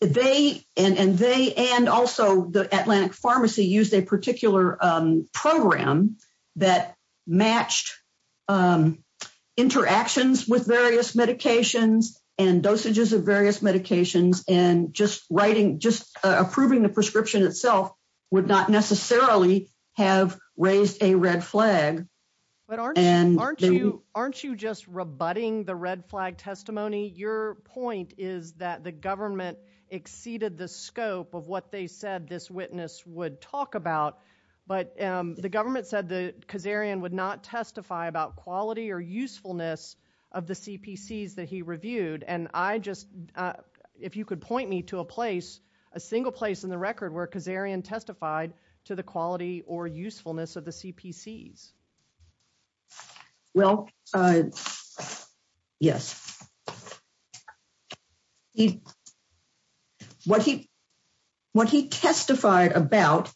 they and and they and also the Atlantic Pharmacy used a particular um program that matched um interactions with various medications and dosages of various medications and just writing just approving the prescription itself would not necessarily have raised a red flag but aren't you aren't you aren't you just rebutting the red flag testimony your point is that the government exceeded the scope of what they said this witness would talk about but um the government said the kazarian would not testify about quality or usefulness of the cpcs that he reviewed and i just if you could point me to a place a single place in the record where kazarian testified to the quality or usefulness of the cpcs well uh yes what he what he testified about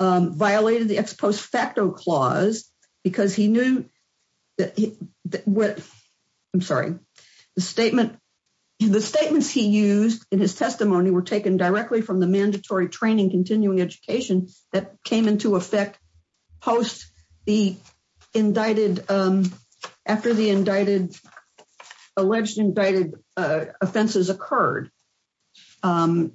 um violated the ex post facto clause because he knew that what i'm sorry the statement the statements he used in his testimony were taken directly from the mandatory training continuing education that came into effect post the indicted um the indicted alleged indicted uh offenses occurred um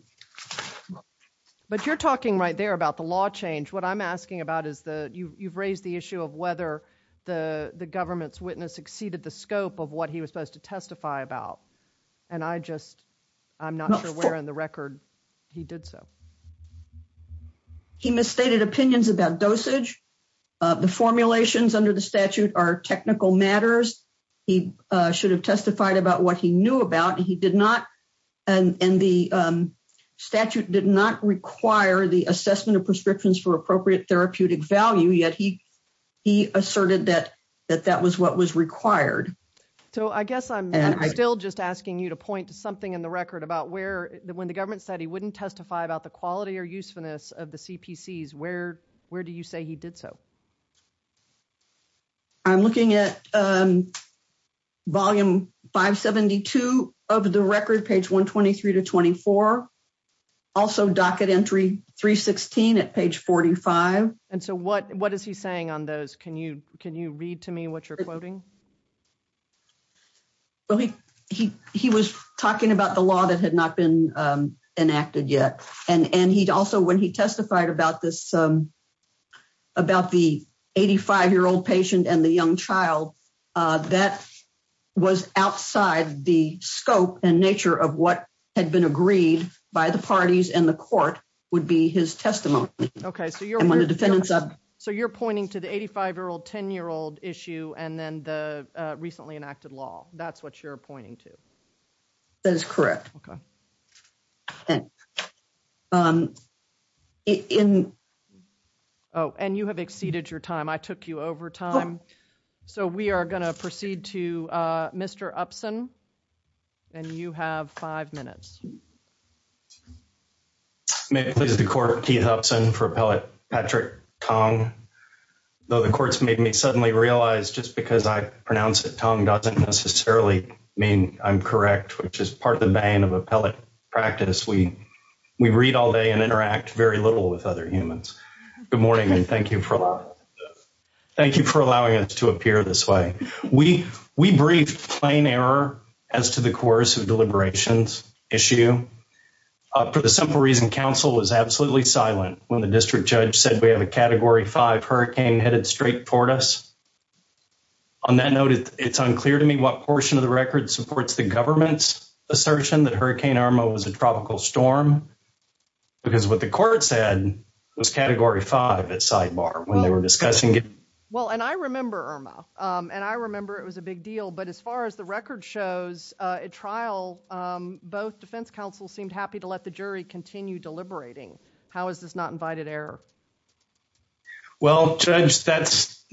but you're talking right there about the law change what i'm asking about is the you've raised the issue of whether the the government's witness exceeded the scope of what he was supposed to testify about and i just i'm not sure where in the record he did so he misstated opinions about dosage the formulations under the statute are technical matters he should have testified about what he knew about he did not and and the um statute did not require the assessment of prescriptions for appropriate therapeutic value yet he he asserted that that that was what was required so i guess i'm still just asking you to point to something in the record about where when the government said he wouldn't testify about the quality or usefulness of the cpcs where where do you say did so i'm looking at um volume 572 of the record page 123 to 24 also docket entry 316 at page 45 and so what what is he saying on those can you can you read to me what you're quoting well he he he was talking about the law that had not been enacted yet and and he'd also when he testified about this um about the 85 year old patient and the young child uh that was outside the scope and nature of what had been agreed by the parties and the court would be his testimony okay so you're on the defendants up so you're pointing to the 85 year old 10 year old issue and then the recently enacted law that's what you're pointing to that's correct okay and um in oh and you have exceeded your time i took you over time so we are going to proceed to uh mr upson and you have five minutes may it please the court keith upson for appellate patrick tong though the courts made me suddenly realize just because i pronounce it tongue doesn't necessarily mean i'm correct which is part of the bane of appellate practice we we read all day and interact very little with other humans good morning and thank you for allowing thank you for allowing us to appear this way we we briefed plain error as to the course of deliberations issue uh for the simple reason council was absolutely silent when the district judge said we have a category 5 hurricane headed straight toward us on that note it's unclear to me what portion of the record supports the government's assertion that hurricane arma was a tropical storm because what the court said was category 5 at sidebar when they were discussing it well and i remember erma um and i remember it was a big deal but as far as the record shows uh at trial um both defense counsel seemed happy to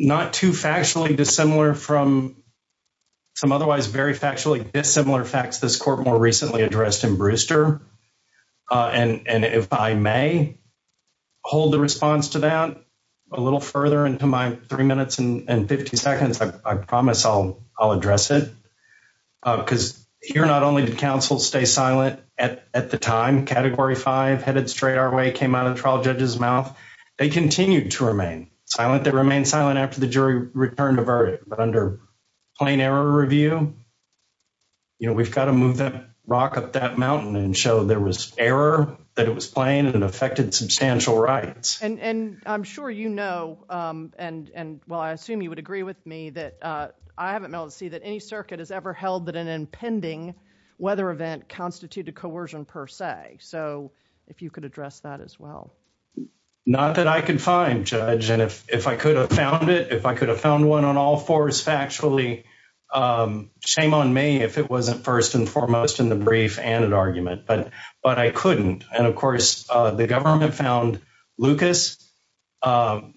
not too factually dissimilar from some otherwise very factually dissimilar facts this court more recently addressed in brewster uh and and if i may hold the response to that a little further into my three minutes and 50 seconds i promise i'll i'll address it because here not only did counsel stay silent at at the time category 5 headed straight our way came out of trial judge's silent that remained silent after the jury returned a verdict but under plain error review you know we've got to move that rock up that mountain and show there was error that it was plain and affected substantial rights and and i'm sure you know um and and well i assume you would agree with me that uh i haven't been able to see that any circuit has ever held that an impending weather event constituted coercion per se so if you could address that as not that i could find judge and if if i could have found it if i could have found one on all fours factually um shame on me if it wasn't first and foremost in the brief and an argument but but i couldn't and of course uh the government found lucas um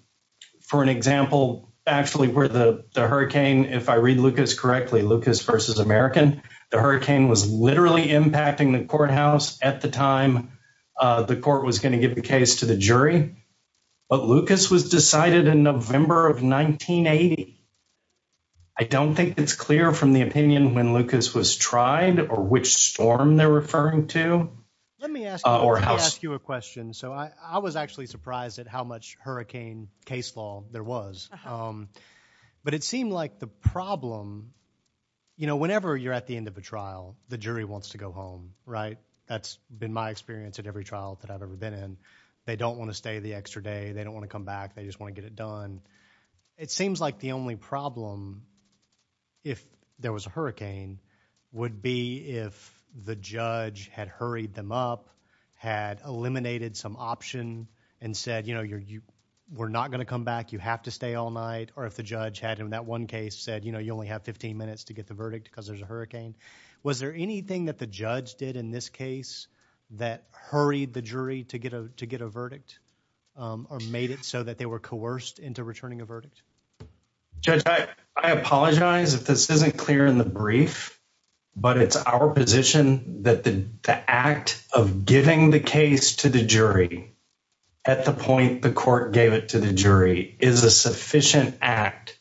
for an example actually where the the hurricane if i read lucas correctly lucas versus american the hurricane was literally impacting the courthouse at the time uh the court was going to give the case to the jury but lucas was decided in november of 1980 i don't think it's clear from the opinion when lucas was tried or which storm they're referring to let me ask you a question so i i was actually surprised at how much hurricane case law there was um but it seemed like the problem you know whenever you're at the end of a trial the jury wants to go home right that's been my experience at every trial that i've ever been in they don't want to stay the extra day they don't want to come back they just want to get it done it seems like the only problem if there was a hurricane would be if the judge had hurried them up had eliminated some option and said you know you're you we're not going to come back you have to stay all night or if the judge had him that one case said you know you only have 15 minutes to get the verdict because there's a hurricane was there anything that the judge did in this case that hurried the jury to get a to get a verdict um or made it so that they were coerced into returning a verdict judge i i apologize if this isn't clear in the brief but it's our position that the act of giving the case to the jury at the point the court gave it to the jury is a sufficient act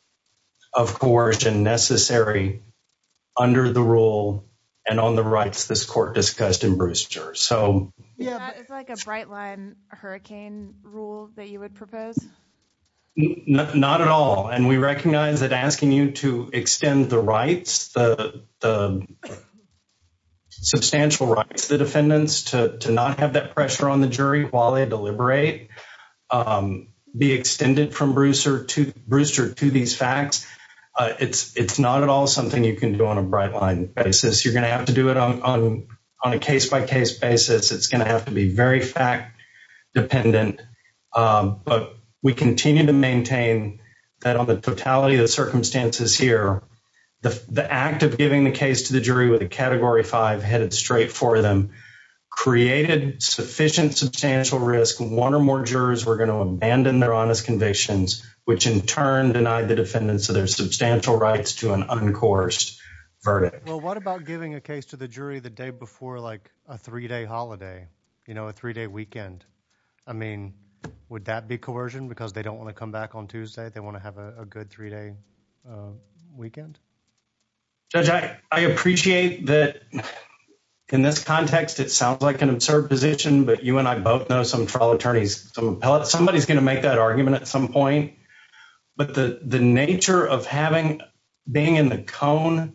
of coercion necessary under the rule and on the rights this court discussed in brewster so yeah it's like a bright line hurricane rule that you would propose not at all and we recognize that asking you to extend the rights the the substantial rights the defendants to to not have that pressure on the jury while they deliberate um be extended from brewster to brewster to these facts uh it's it's not at all something you can do on a bright line basis you're going to have to do it on on a case-by-case basis it's going to have to be very fact dependent um but we continue to maintain that on the totality of the circumstances here the the act of giving the case to the jury with a category five headed straight for them created sufficient substantial risk one or more jurors were going to abandon their honest convictions which in turn denied the defendants of their substantial rights to an uncoursed verdict well what about giving a case to the jury the day before like a three-day holiday you know a three-day weekend i mean would that be coercion because they don't want to come back on tuesday they want to have a good three-day weekend judge i i appreciate that in this context it sounds like an absurd position but you and i both know some trial attorneys some appellate somebody's going to make that argument at some point but the the nature of having being in the cone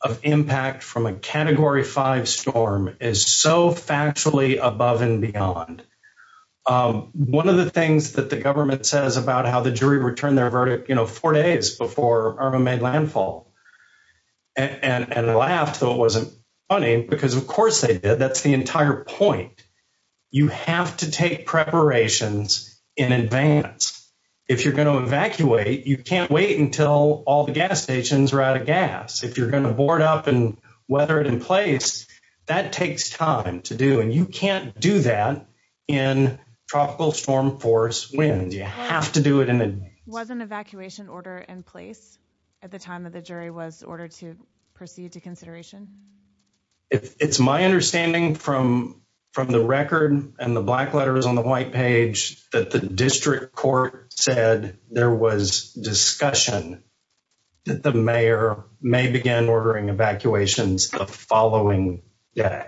of impact from a category five storm is so factually above and beyond um one of the things that the government says about how the jury returned their verdict you know four days before arma made landfall and and laughed though it wasn't funny because of course they did that's the entire point you have to take preparations in advance if you're going to evacuate you can't wait until all the gas stations are out of gas if you're going to board up and weather it in place that have to do it and it wasn't evacuation order in place at the time that the jury was ordered to proceed to consideration it's my understanding from from the record and the black letters on the white page that the district court said there was discussion that the mayor may begin ordering evacuations the following day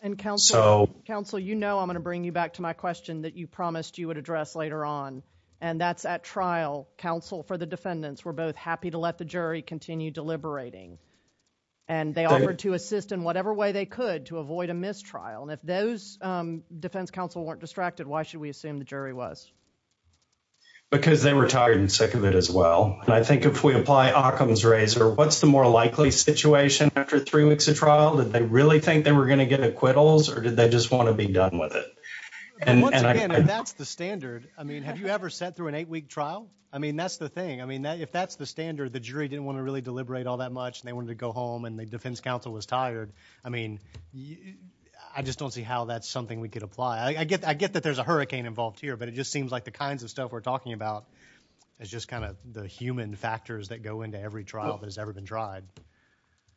and counsel counsel you know i'm going to bring you back to my question that you promised you would address later on and that's at trial counsel for the defendants were both happy to let the jury continue deliberating and they offered to assist in whatever way they could to avoid a mistrial and if those um defense counsel weren't distracted why should we assume the jury was because they were tired and sick of it as well and i think if we apply occam's razor what's the more likely situation after three weeks of trial did they really think they were going to get acquittals or did they just want to be done with it and that's the standard i mean have you ever sat through an eight-week trial i mean that's the thing i mean that if that's the standard the jury didn't want to really deliberate all that much and they wanted to go home and the defense counsel was tired i mean i just don't see how that's something we could apply i get i get that there's a hurricane involved here but it just seems like the kinds of stuff we're talking about is just kind of the human factors that go into every trial that has ever been tried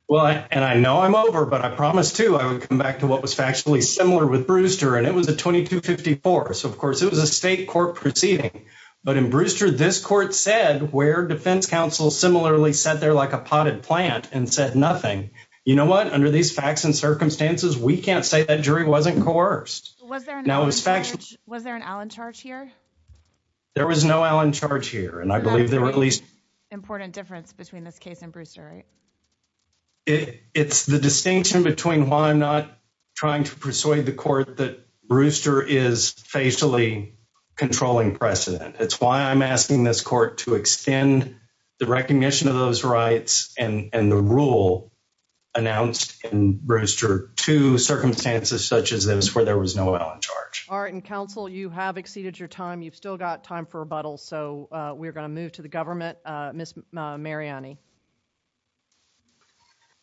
well and i know i'm over but i promised too i would come back to what was factually similar with Brewster and it was a 2254 so of course it was a state court proceeding but in Brewster this court said where defense counsel similarly sat there like a potted plant and said nothing you know what under these facts and circumstances we can't say that jury wasn't coerced was there now was factual was there an allen charge here there was no allen charge here and i believe there were at least important difference between this case and Brewster right it's the distinction between why i'm not trying to persuade the court that Brewster is facially controlling precedent it's why i'm asking this court to extend the recognition of those rights and and the rule announced in Brewster to circumstances such as those where there was no well in charge all right and counsel you have exceeded your time you've still got time for move to the government uh miss mariani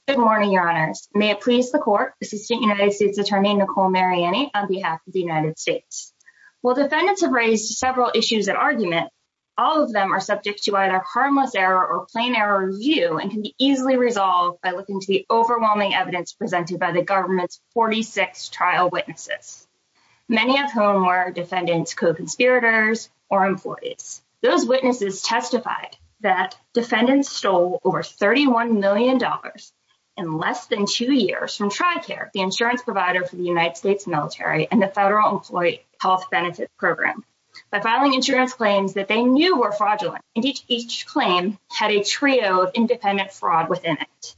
good morning your honors may it please the court assistant united states attorney nicole mariani on behalf of the united states while defendants have raised several issues at argument all of them are subject to either harmless error or plain error review and can be easily resolved by looking to the overwhelming evidence presented by the government's 46 trial witnesses many of whom were defendants co-conspirators or employees those witnesses testified that defendants stole over 31 million dollars in less than two years from tri-care the insurance provider for the united states military and the federal employee health benefits program by filing insurance claims that they knew were fraudulent and each each claim had a trio of independent fraud within it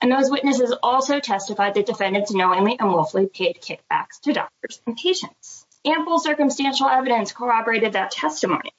and those witnesses also testified that defendants knowingly and woefully paid kickbacks to doctors and patients ample circumstantial evidence corroborated that testimony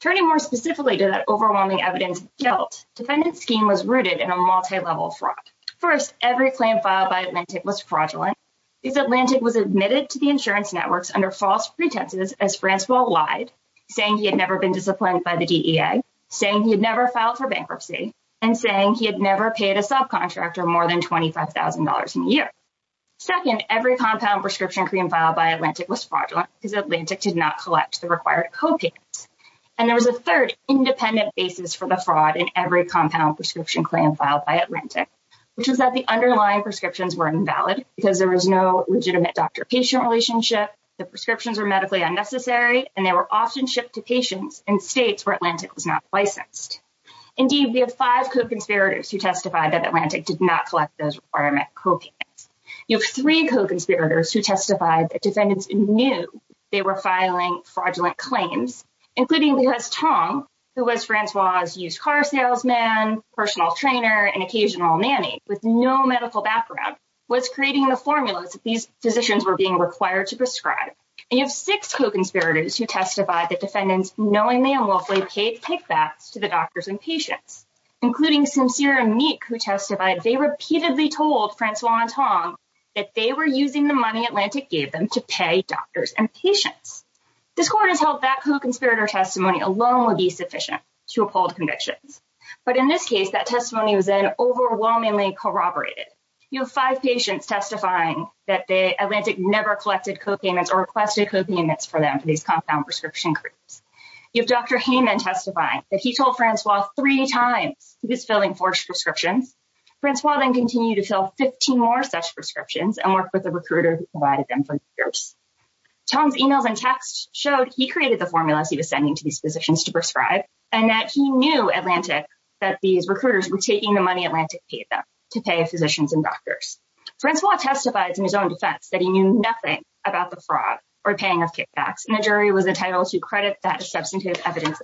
turning more specifically to that overwhelming evidence guilt defendant scheme was rooted in a multi-level fraud first every claim filed by atlantic was fraudulent these atlantic was admitted to the insurance networks under false pretenses as francois lied saying he had never been disciplined by the dea saying he had never filed for bankruptcy and saying he had never paid a subcontractor more than 25 000 a year second every compound prescription cream filed by atlantic was fraudulent because atlantic did not collect the required copayments and there was a third independent basis for the fraud in every compound prescription claim filed by atlantic which is that the underlying prescriptions were invalid because there was no legitimate doctor patient relationship the prescriptions were medically unnecessary and they were often shipped to patients in states where atlantic was not licensed indeed we have five co-conspirators who testified that atlantic did not collect those requirement you have three co-conspirators who testified that defendants knew they were filing fraudulent claims including louis tong who was francois's used car salesman personal trainer and occasional nanny with no medical background was creating the formulas that these physicians were being required to prescribe and you have six co-conspirators who testified that defendants knowingly and willfully paid kickbacks to the doctors and patients including sincere and meek they repeatedly told francois and tong that they were using the money atlantic gave them to pay doctors and patients this court has held that co-conspirator testimony alone would be sufficient to uphold convictions but in this case that testimony was then overwhelmingly corroborated you have five patients testifying that the atlantic never collected copayments or requested copayments for them for these compound prescription groups you have dr hayman testifying that he told francois three times he was filling forged prescriptions francois then continued to fill 15 more such prescriptions and worked with the recruiter who provided them for years tong's emails and texts showed he created the formulas he was sending to these physicians to prescribe and that he knew atlantic that these recruiters were taking the money atlantic paid them to pay physicians and doctors francois testifies in his own defense that he knew nothing about the fraud or paying of kickbacks and the jury was entitled to credit that substantive evidence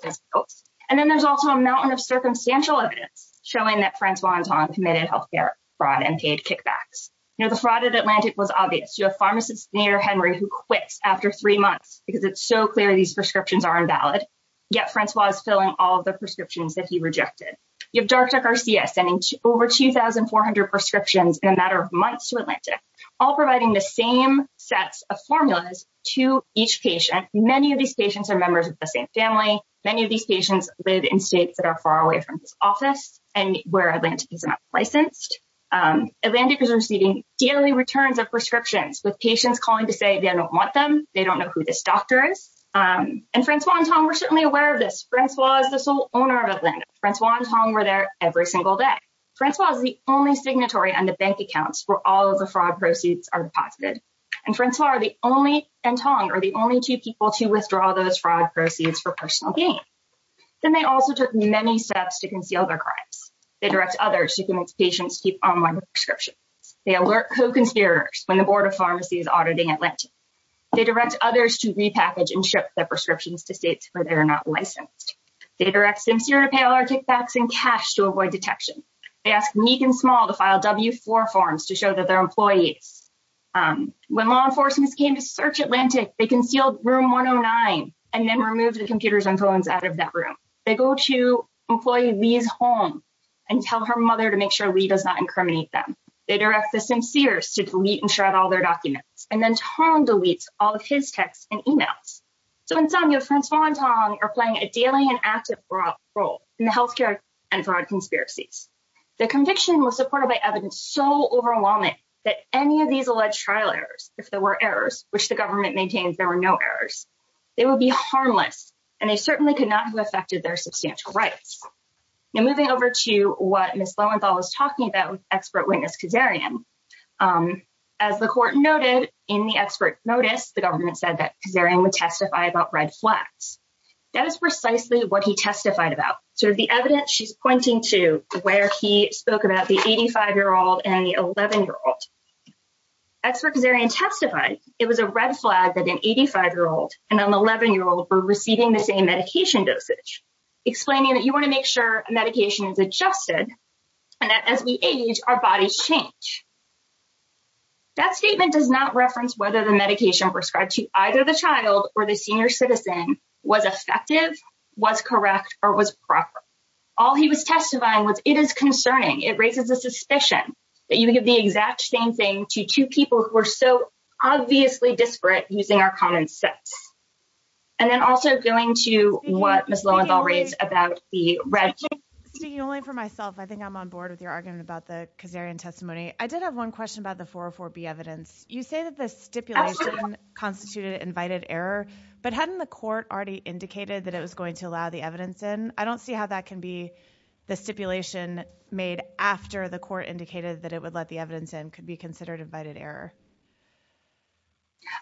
and then there's also a mountain of circumstantial evidence showing that francois and tong committed health care fraud and paid kickbacks you know the fraud at atlantic was obvious you have pharmacists near henry who quits after three months because it's so clear these prescriptions are invalid yet francois is filling all the prescriptions that he rejected you have dr garcia sending over 2400 prescriptions in a matter of months to atlantic all providing the many of these patients live in states that are far away from this office and where atlanta is not licensed um atlantic is receiving daily returns of prescriptions with patients calling to say they don't want them they don't know who this doctor is um and francois and tong were certainly aware of this francois is the sole owner of atlanta francois and tong were there every single day francois is the only signatory on the bank accounts where all of the fraud proceeds are deposited and francois are the only and tong are the only two people to withdraw those fraud proceeds for personal gain then they also took many steps to conceal their crimes they direct others to convince patients to keep online prescriptions they alert co-conspirators when the board of pharmacy is auditing atlanta they direct others to repackage and ship their prescriptions to states where they are not licensed they direct sincere to pay all our kickbacks and cash to avoid detection they ask meek and small to file w4 forms to show that their employees um when law enforcement came to search atlantic they concealed room 109 and then removed the computers and phones out of that room they go to employee lee's home and tell her mother to make sure lee does not incriminate them they direct the sincere to delete and shred all their documents and then tong deletes all of his texts and emails so in sum your francois and tong are playing a daily and active role in the healthcare and fraud conspiracies the conviction was supported by evidence so overwhelming that any of these alleged trial errors if there were errors which the government maintains there were no errors they would be harmless and they certainly could not have affected their substantial rights now moving over to what miss lowenthal was talking about expert witness kazarian um as the court noted in the expert notice the government said that kazarian would testify about red flags that is precisely what he testified about so the evidence she's pointing to where he spoke about the 85 year old and the 11 year old expert kazarian testified it was a red flag that an 85 year old and an 11 year old were receiving the same medication dosage explaining that you want to make sure medication is adjusted and that as we age our bodies change that statement does not reference whether the medication prescribed to either the child or the senior citizen was effective was correct or was proper all he was testifying was it is concerning it raises a suspicion that you give the exact same thing to two people who are so obviously disparate using our common sense and then also going to what miss lowenthal reads about the red speaking only for myself i think i'm on board with your argument about the kazarian testimony i did have one question about the 404b evidence you say that the stipulation constituted invited error but hadn't the court already indicated that it was going to allow the evidence in i don't see how that can be the stipulation made after the court indicated that it would let the evidence in could be considered invited error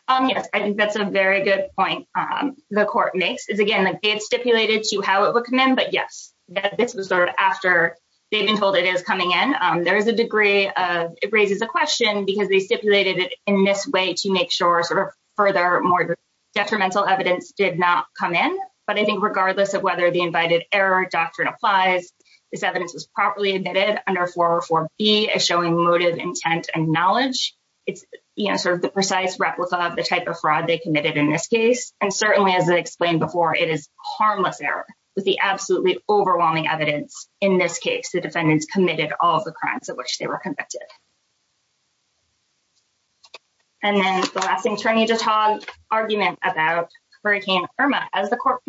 um yes i think that's a very good point um the court makes is again like they have stipulated to how it would come in but yes this was sort of after they've been told it is coming in um there is a degree of it raises a question because they stipulated it in this way to make sure sort of further more detrimental evidence did not come in but i think regardless of whether the invited error doctrine applies this evidence was properly admitted under 404b is showing motive intent and knowledge it's you know sort of the precise replica of the type of fraud they committed in this case and certainly as i explained before it is harmless error with the absolutely overwhelming evidence in this case the defendants committed all the crimes of which they were convicted and then the last attorney to talk argument about hurricane irma as the court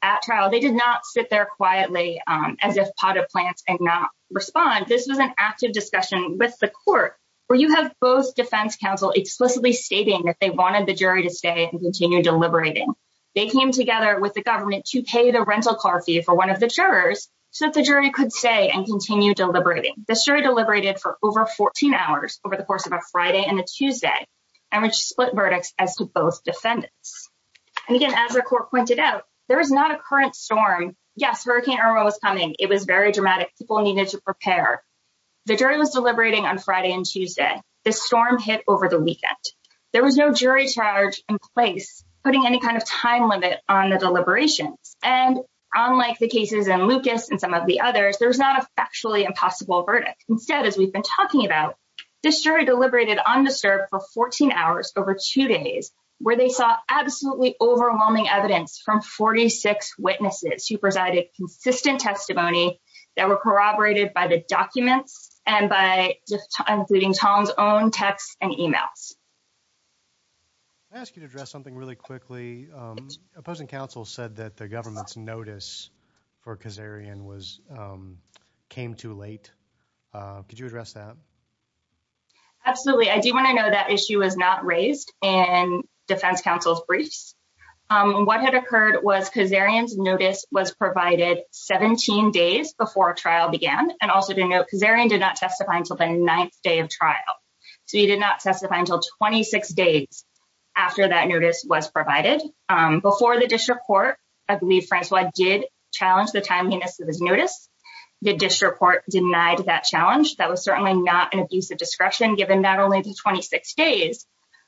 at trial they did not sit there quietly as if pot of plants and not respond this was an active discussion with the court where you have both defense counsel explicitly stating that they wanted the jury to stay and continue deliberating they came together with the government to pay the rental car fee for one of the jurors so that the jury could say and continue deliberating the jury deliberated for over 14 hours over the course of a friday and a tuesday and which split verdicts as to both defendants and again as the court pointed out there is not a current storm yes hurricane irma was coming it was very dramatic people needed to prepare the jury was deliberating on friday and tuesday the storm hit over the weekend there was no jury charge in place putting any kind of time limit on the deliberations and unlike the cases in lucas and some of the others there's not a factually impossible verdict instead as we've been talking about this jury deliberated undisturbed for 14 hours over two days where they saw absolutely overwhelming evidence from 46 witnesses who presided consistent testimony that were corroborated by the documents and by just including tom's own texts and emails i ask you to address something really quickly um opposing counsel said that the government's notice for kazarian was um too late uh could you address that absolutely i do want to know that issue was not raised in defense counsel's briefs um what had occurred was kazarian's notice was provided 17 days before trial began and also to note kazarian did not testify until the ninth day of trial so he did not testify until 26 days after that notice was provided um before the district court i believe francois did challenge the timeliness of his notice the district court denied that challenge that was certainly not an abuse of discretion given not only the 26 days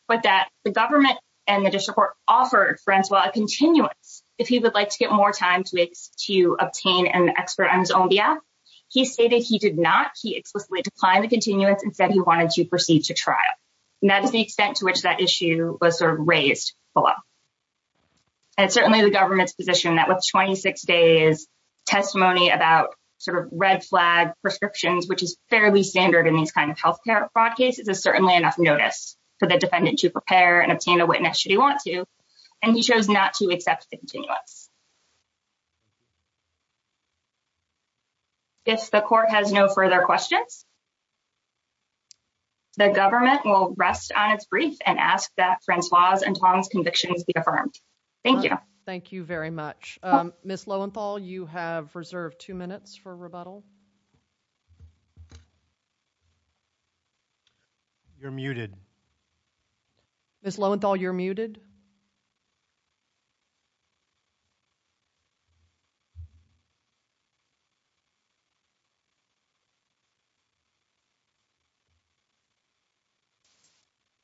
but that the government and the district court offered francois a continuance if he would like to get more time to obtain an expert on his own behalf he stated he did not he explicitly declined the continuance and said he wanted to proceed to trial and that is the extent to which that issue was sort of raised below and certainly the government's position that with 26 days testimony about sort of red flag prescriptions which is fairly standard in these kind of health care fraud cases is certainly enough notice for the defendant to prepare and obtain a witness should he want to and he chose not to accept the continuance if the court has no further questions um the government will rest on its brief and ask that francois and tom's convictions be affirmed thank you thank you very much um miss lowenthal you have reserved two minutes for rebuttal you're muted miss lowenthal you're muted you're muted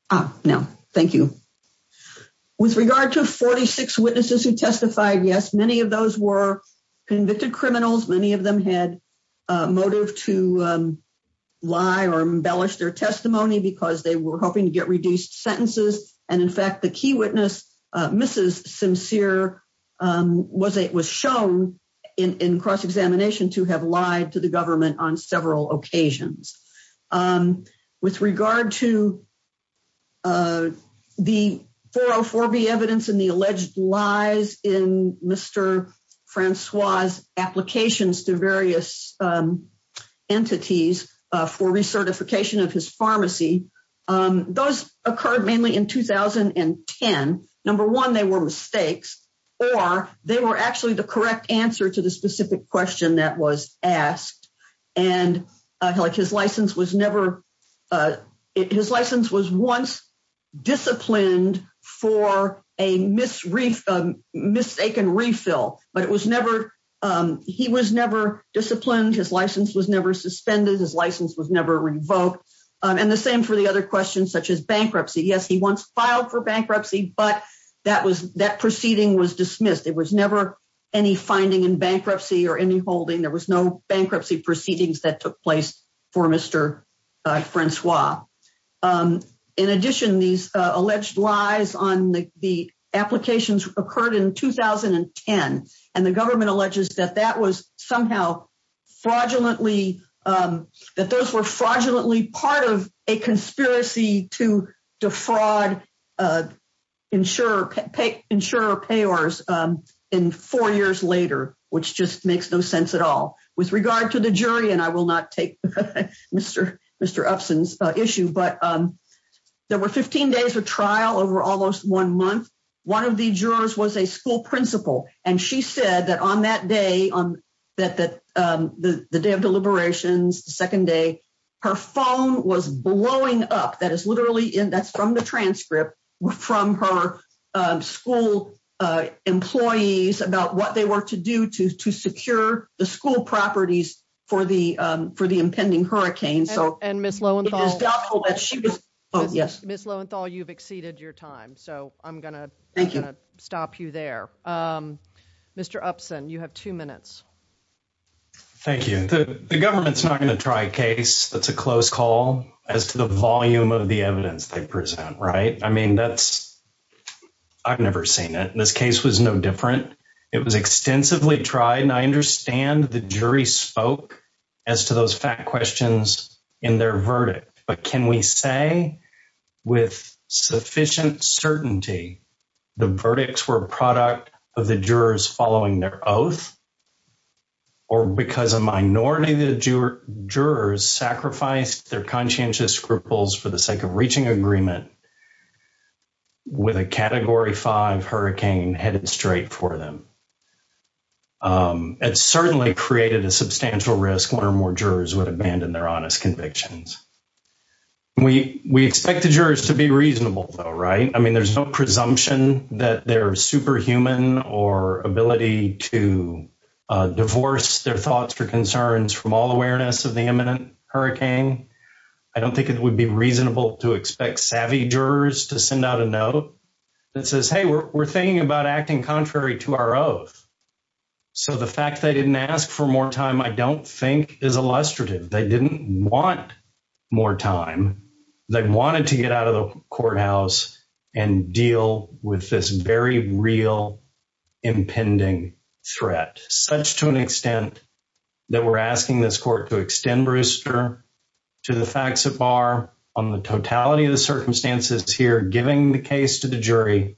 ah no thank you with regard to 46 witnesses who testified yes many of those were convicted criminals many of them had a motive to um lie or embellish their testimony because they were hoping to get reduced sentences and in fact the key witness uh mrs sincere um was it was shown in in cross-examination to have lied to the government on several occasions um with regard to uh the 404b evidence and the alleged lies in mr francois's applications to various um entities uh for recertification of his pharmacy um those occurred mainly in 2010 number one they were mistakes or they were actually the correct answer to the specific question that was asked and like his license was never uh his license was once disciplined for a misreef mistaken refill but it was never um he was never disciplined his license was never suspended his license was never revoked and the same for the other questions such as bankruptcy yes he once filed for bankruptcy but that was that proceeding was dismissed it was never any finding in bankruptcy or any holding there was no bankruptcy proceedings that took place for mr francois um in addition these alleged lies on the applications occurred in 2010 and the government alleges that that was somehow fraudulently um that those were fraudulently part of a conspiracy to defraud uh insurer pay insurer payors um in four years later which just makes no sense at all with regard to the jury and i will not take mr mr upson's issue but um there were 15 days of trial over almost one month one of the jurors was a school principal and she said that on that day on that that um the the day of deliberations the second day her phone was blowing up that is literally in that's from the transcript from her um school uh employees about what they were to do to to secure the school properties for the um for the impending hurricane so and miss lowenthal is doubtful that she was oh yes miss lowenthal you've exceeded your time so i'm gonna thank you stop you there um mr upson you have two minutes thank you the government's not going that's a close call as to the volume of the evidence they present right i mean that's i've never seen it this case was no different it was extensively tried and i understand the jury spoke as to those fact questions in their verdict but can we say with sufficient certainty the verdicts were a product of the jurors following their oath or because a minority the jurors sacrificed their conscientious scruples for the sake of reaching agreement with a category 5 hurricane headed straight for them it certainly created a substantial risk one or more jurors would abandon their honest convictions we we expect the jurors to be reasonable though right i mean there's no presumption that they're superhuman or ability to uh divorce their thoughts or concerns from all awareness of the imminent hurricane i don't think it would be reasonable to expect savvy jurors to send out a note that says hey we're thinking about acting contrary to our oath so the fact they didn't ask for more time i don't think is illustrative they didn't want more time they this very real impending threat such to an extent that we're asking this court to extend rooster to the facts of bar on the totality of the circumstances here giving the case to the jury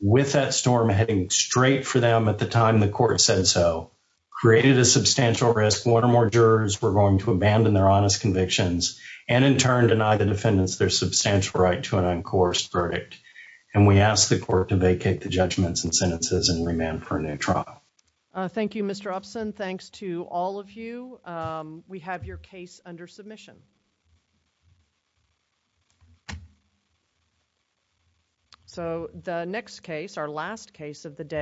with that storm heading straight for them at the time the court said so created a substantial risk one or more jurors were going to abandon their honest convictions and in turn deny the defendants their substantial right to an uncoerced verdict and we ask the court to vacate the judgments and sentences and remand for a new trial uh thank you mr upson thanks to all of you um we have your case under submission so the next case our last case of the day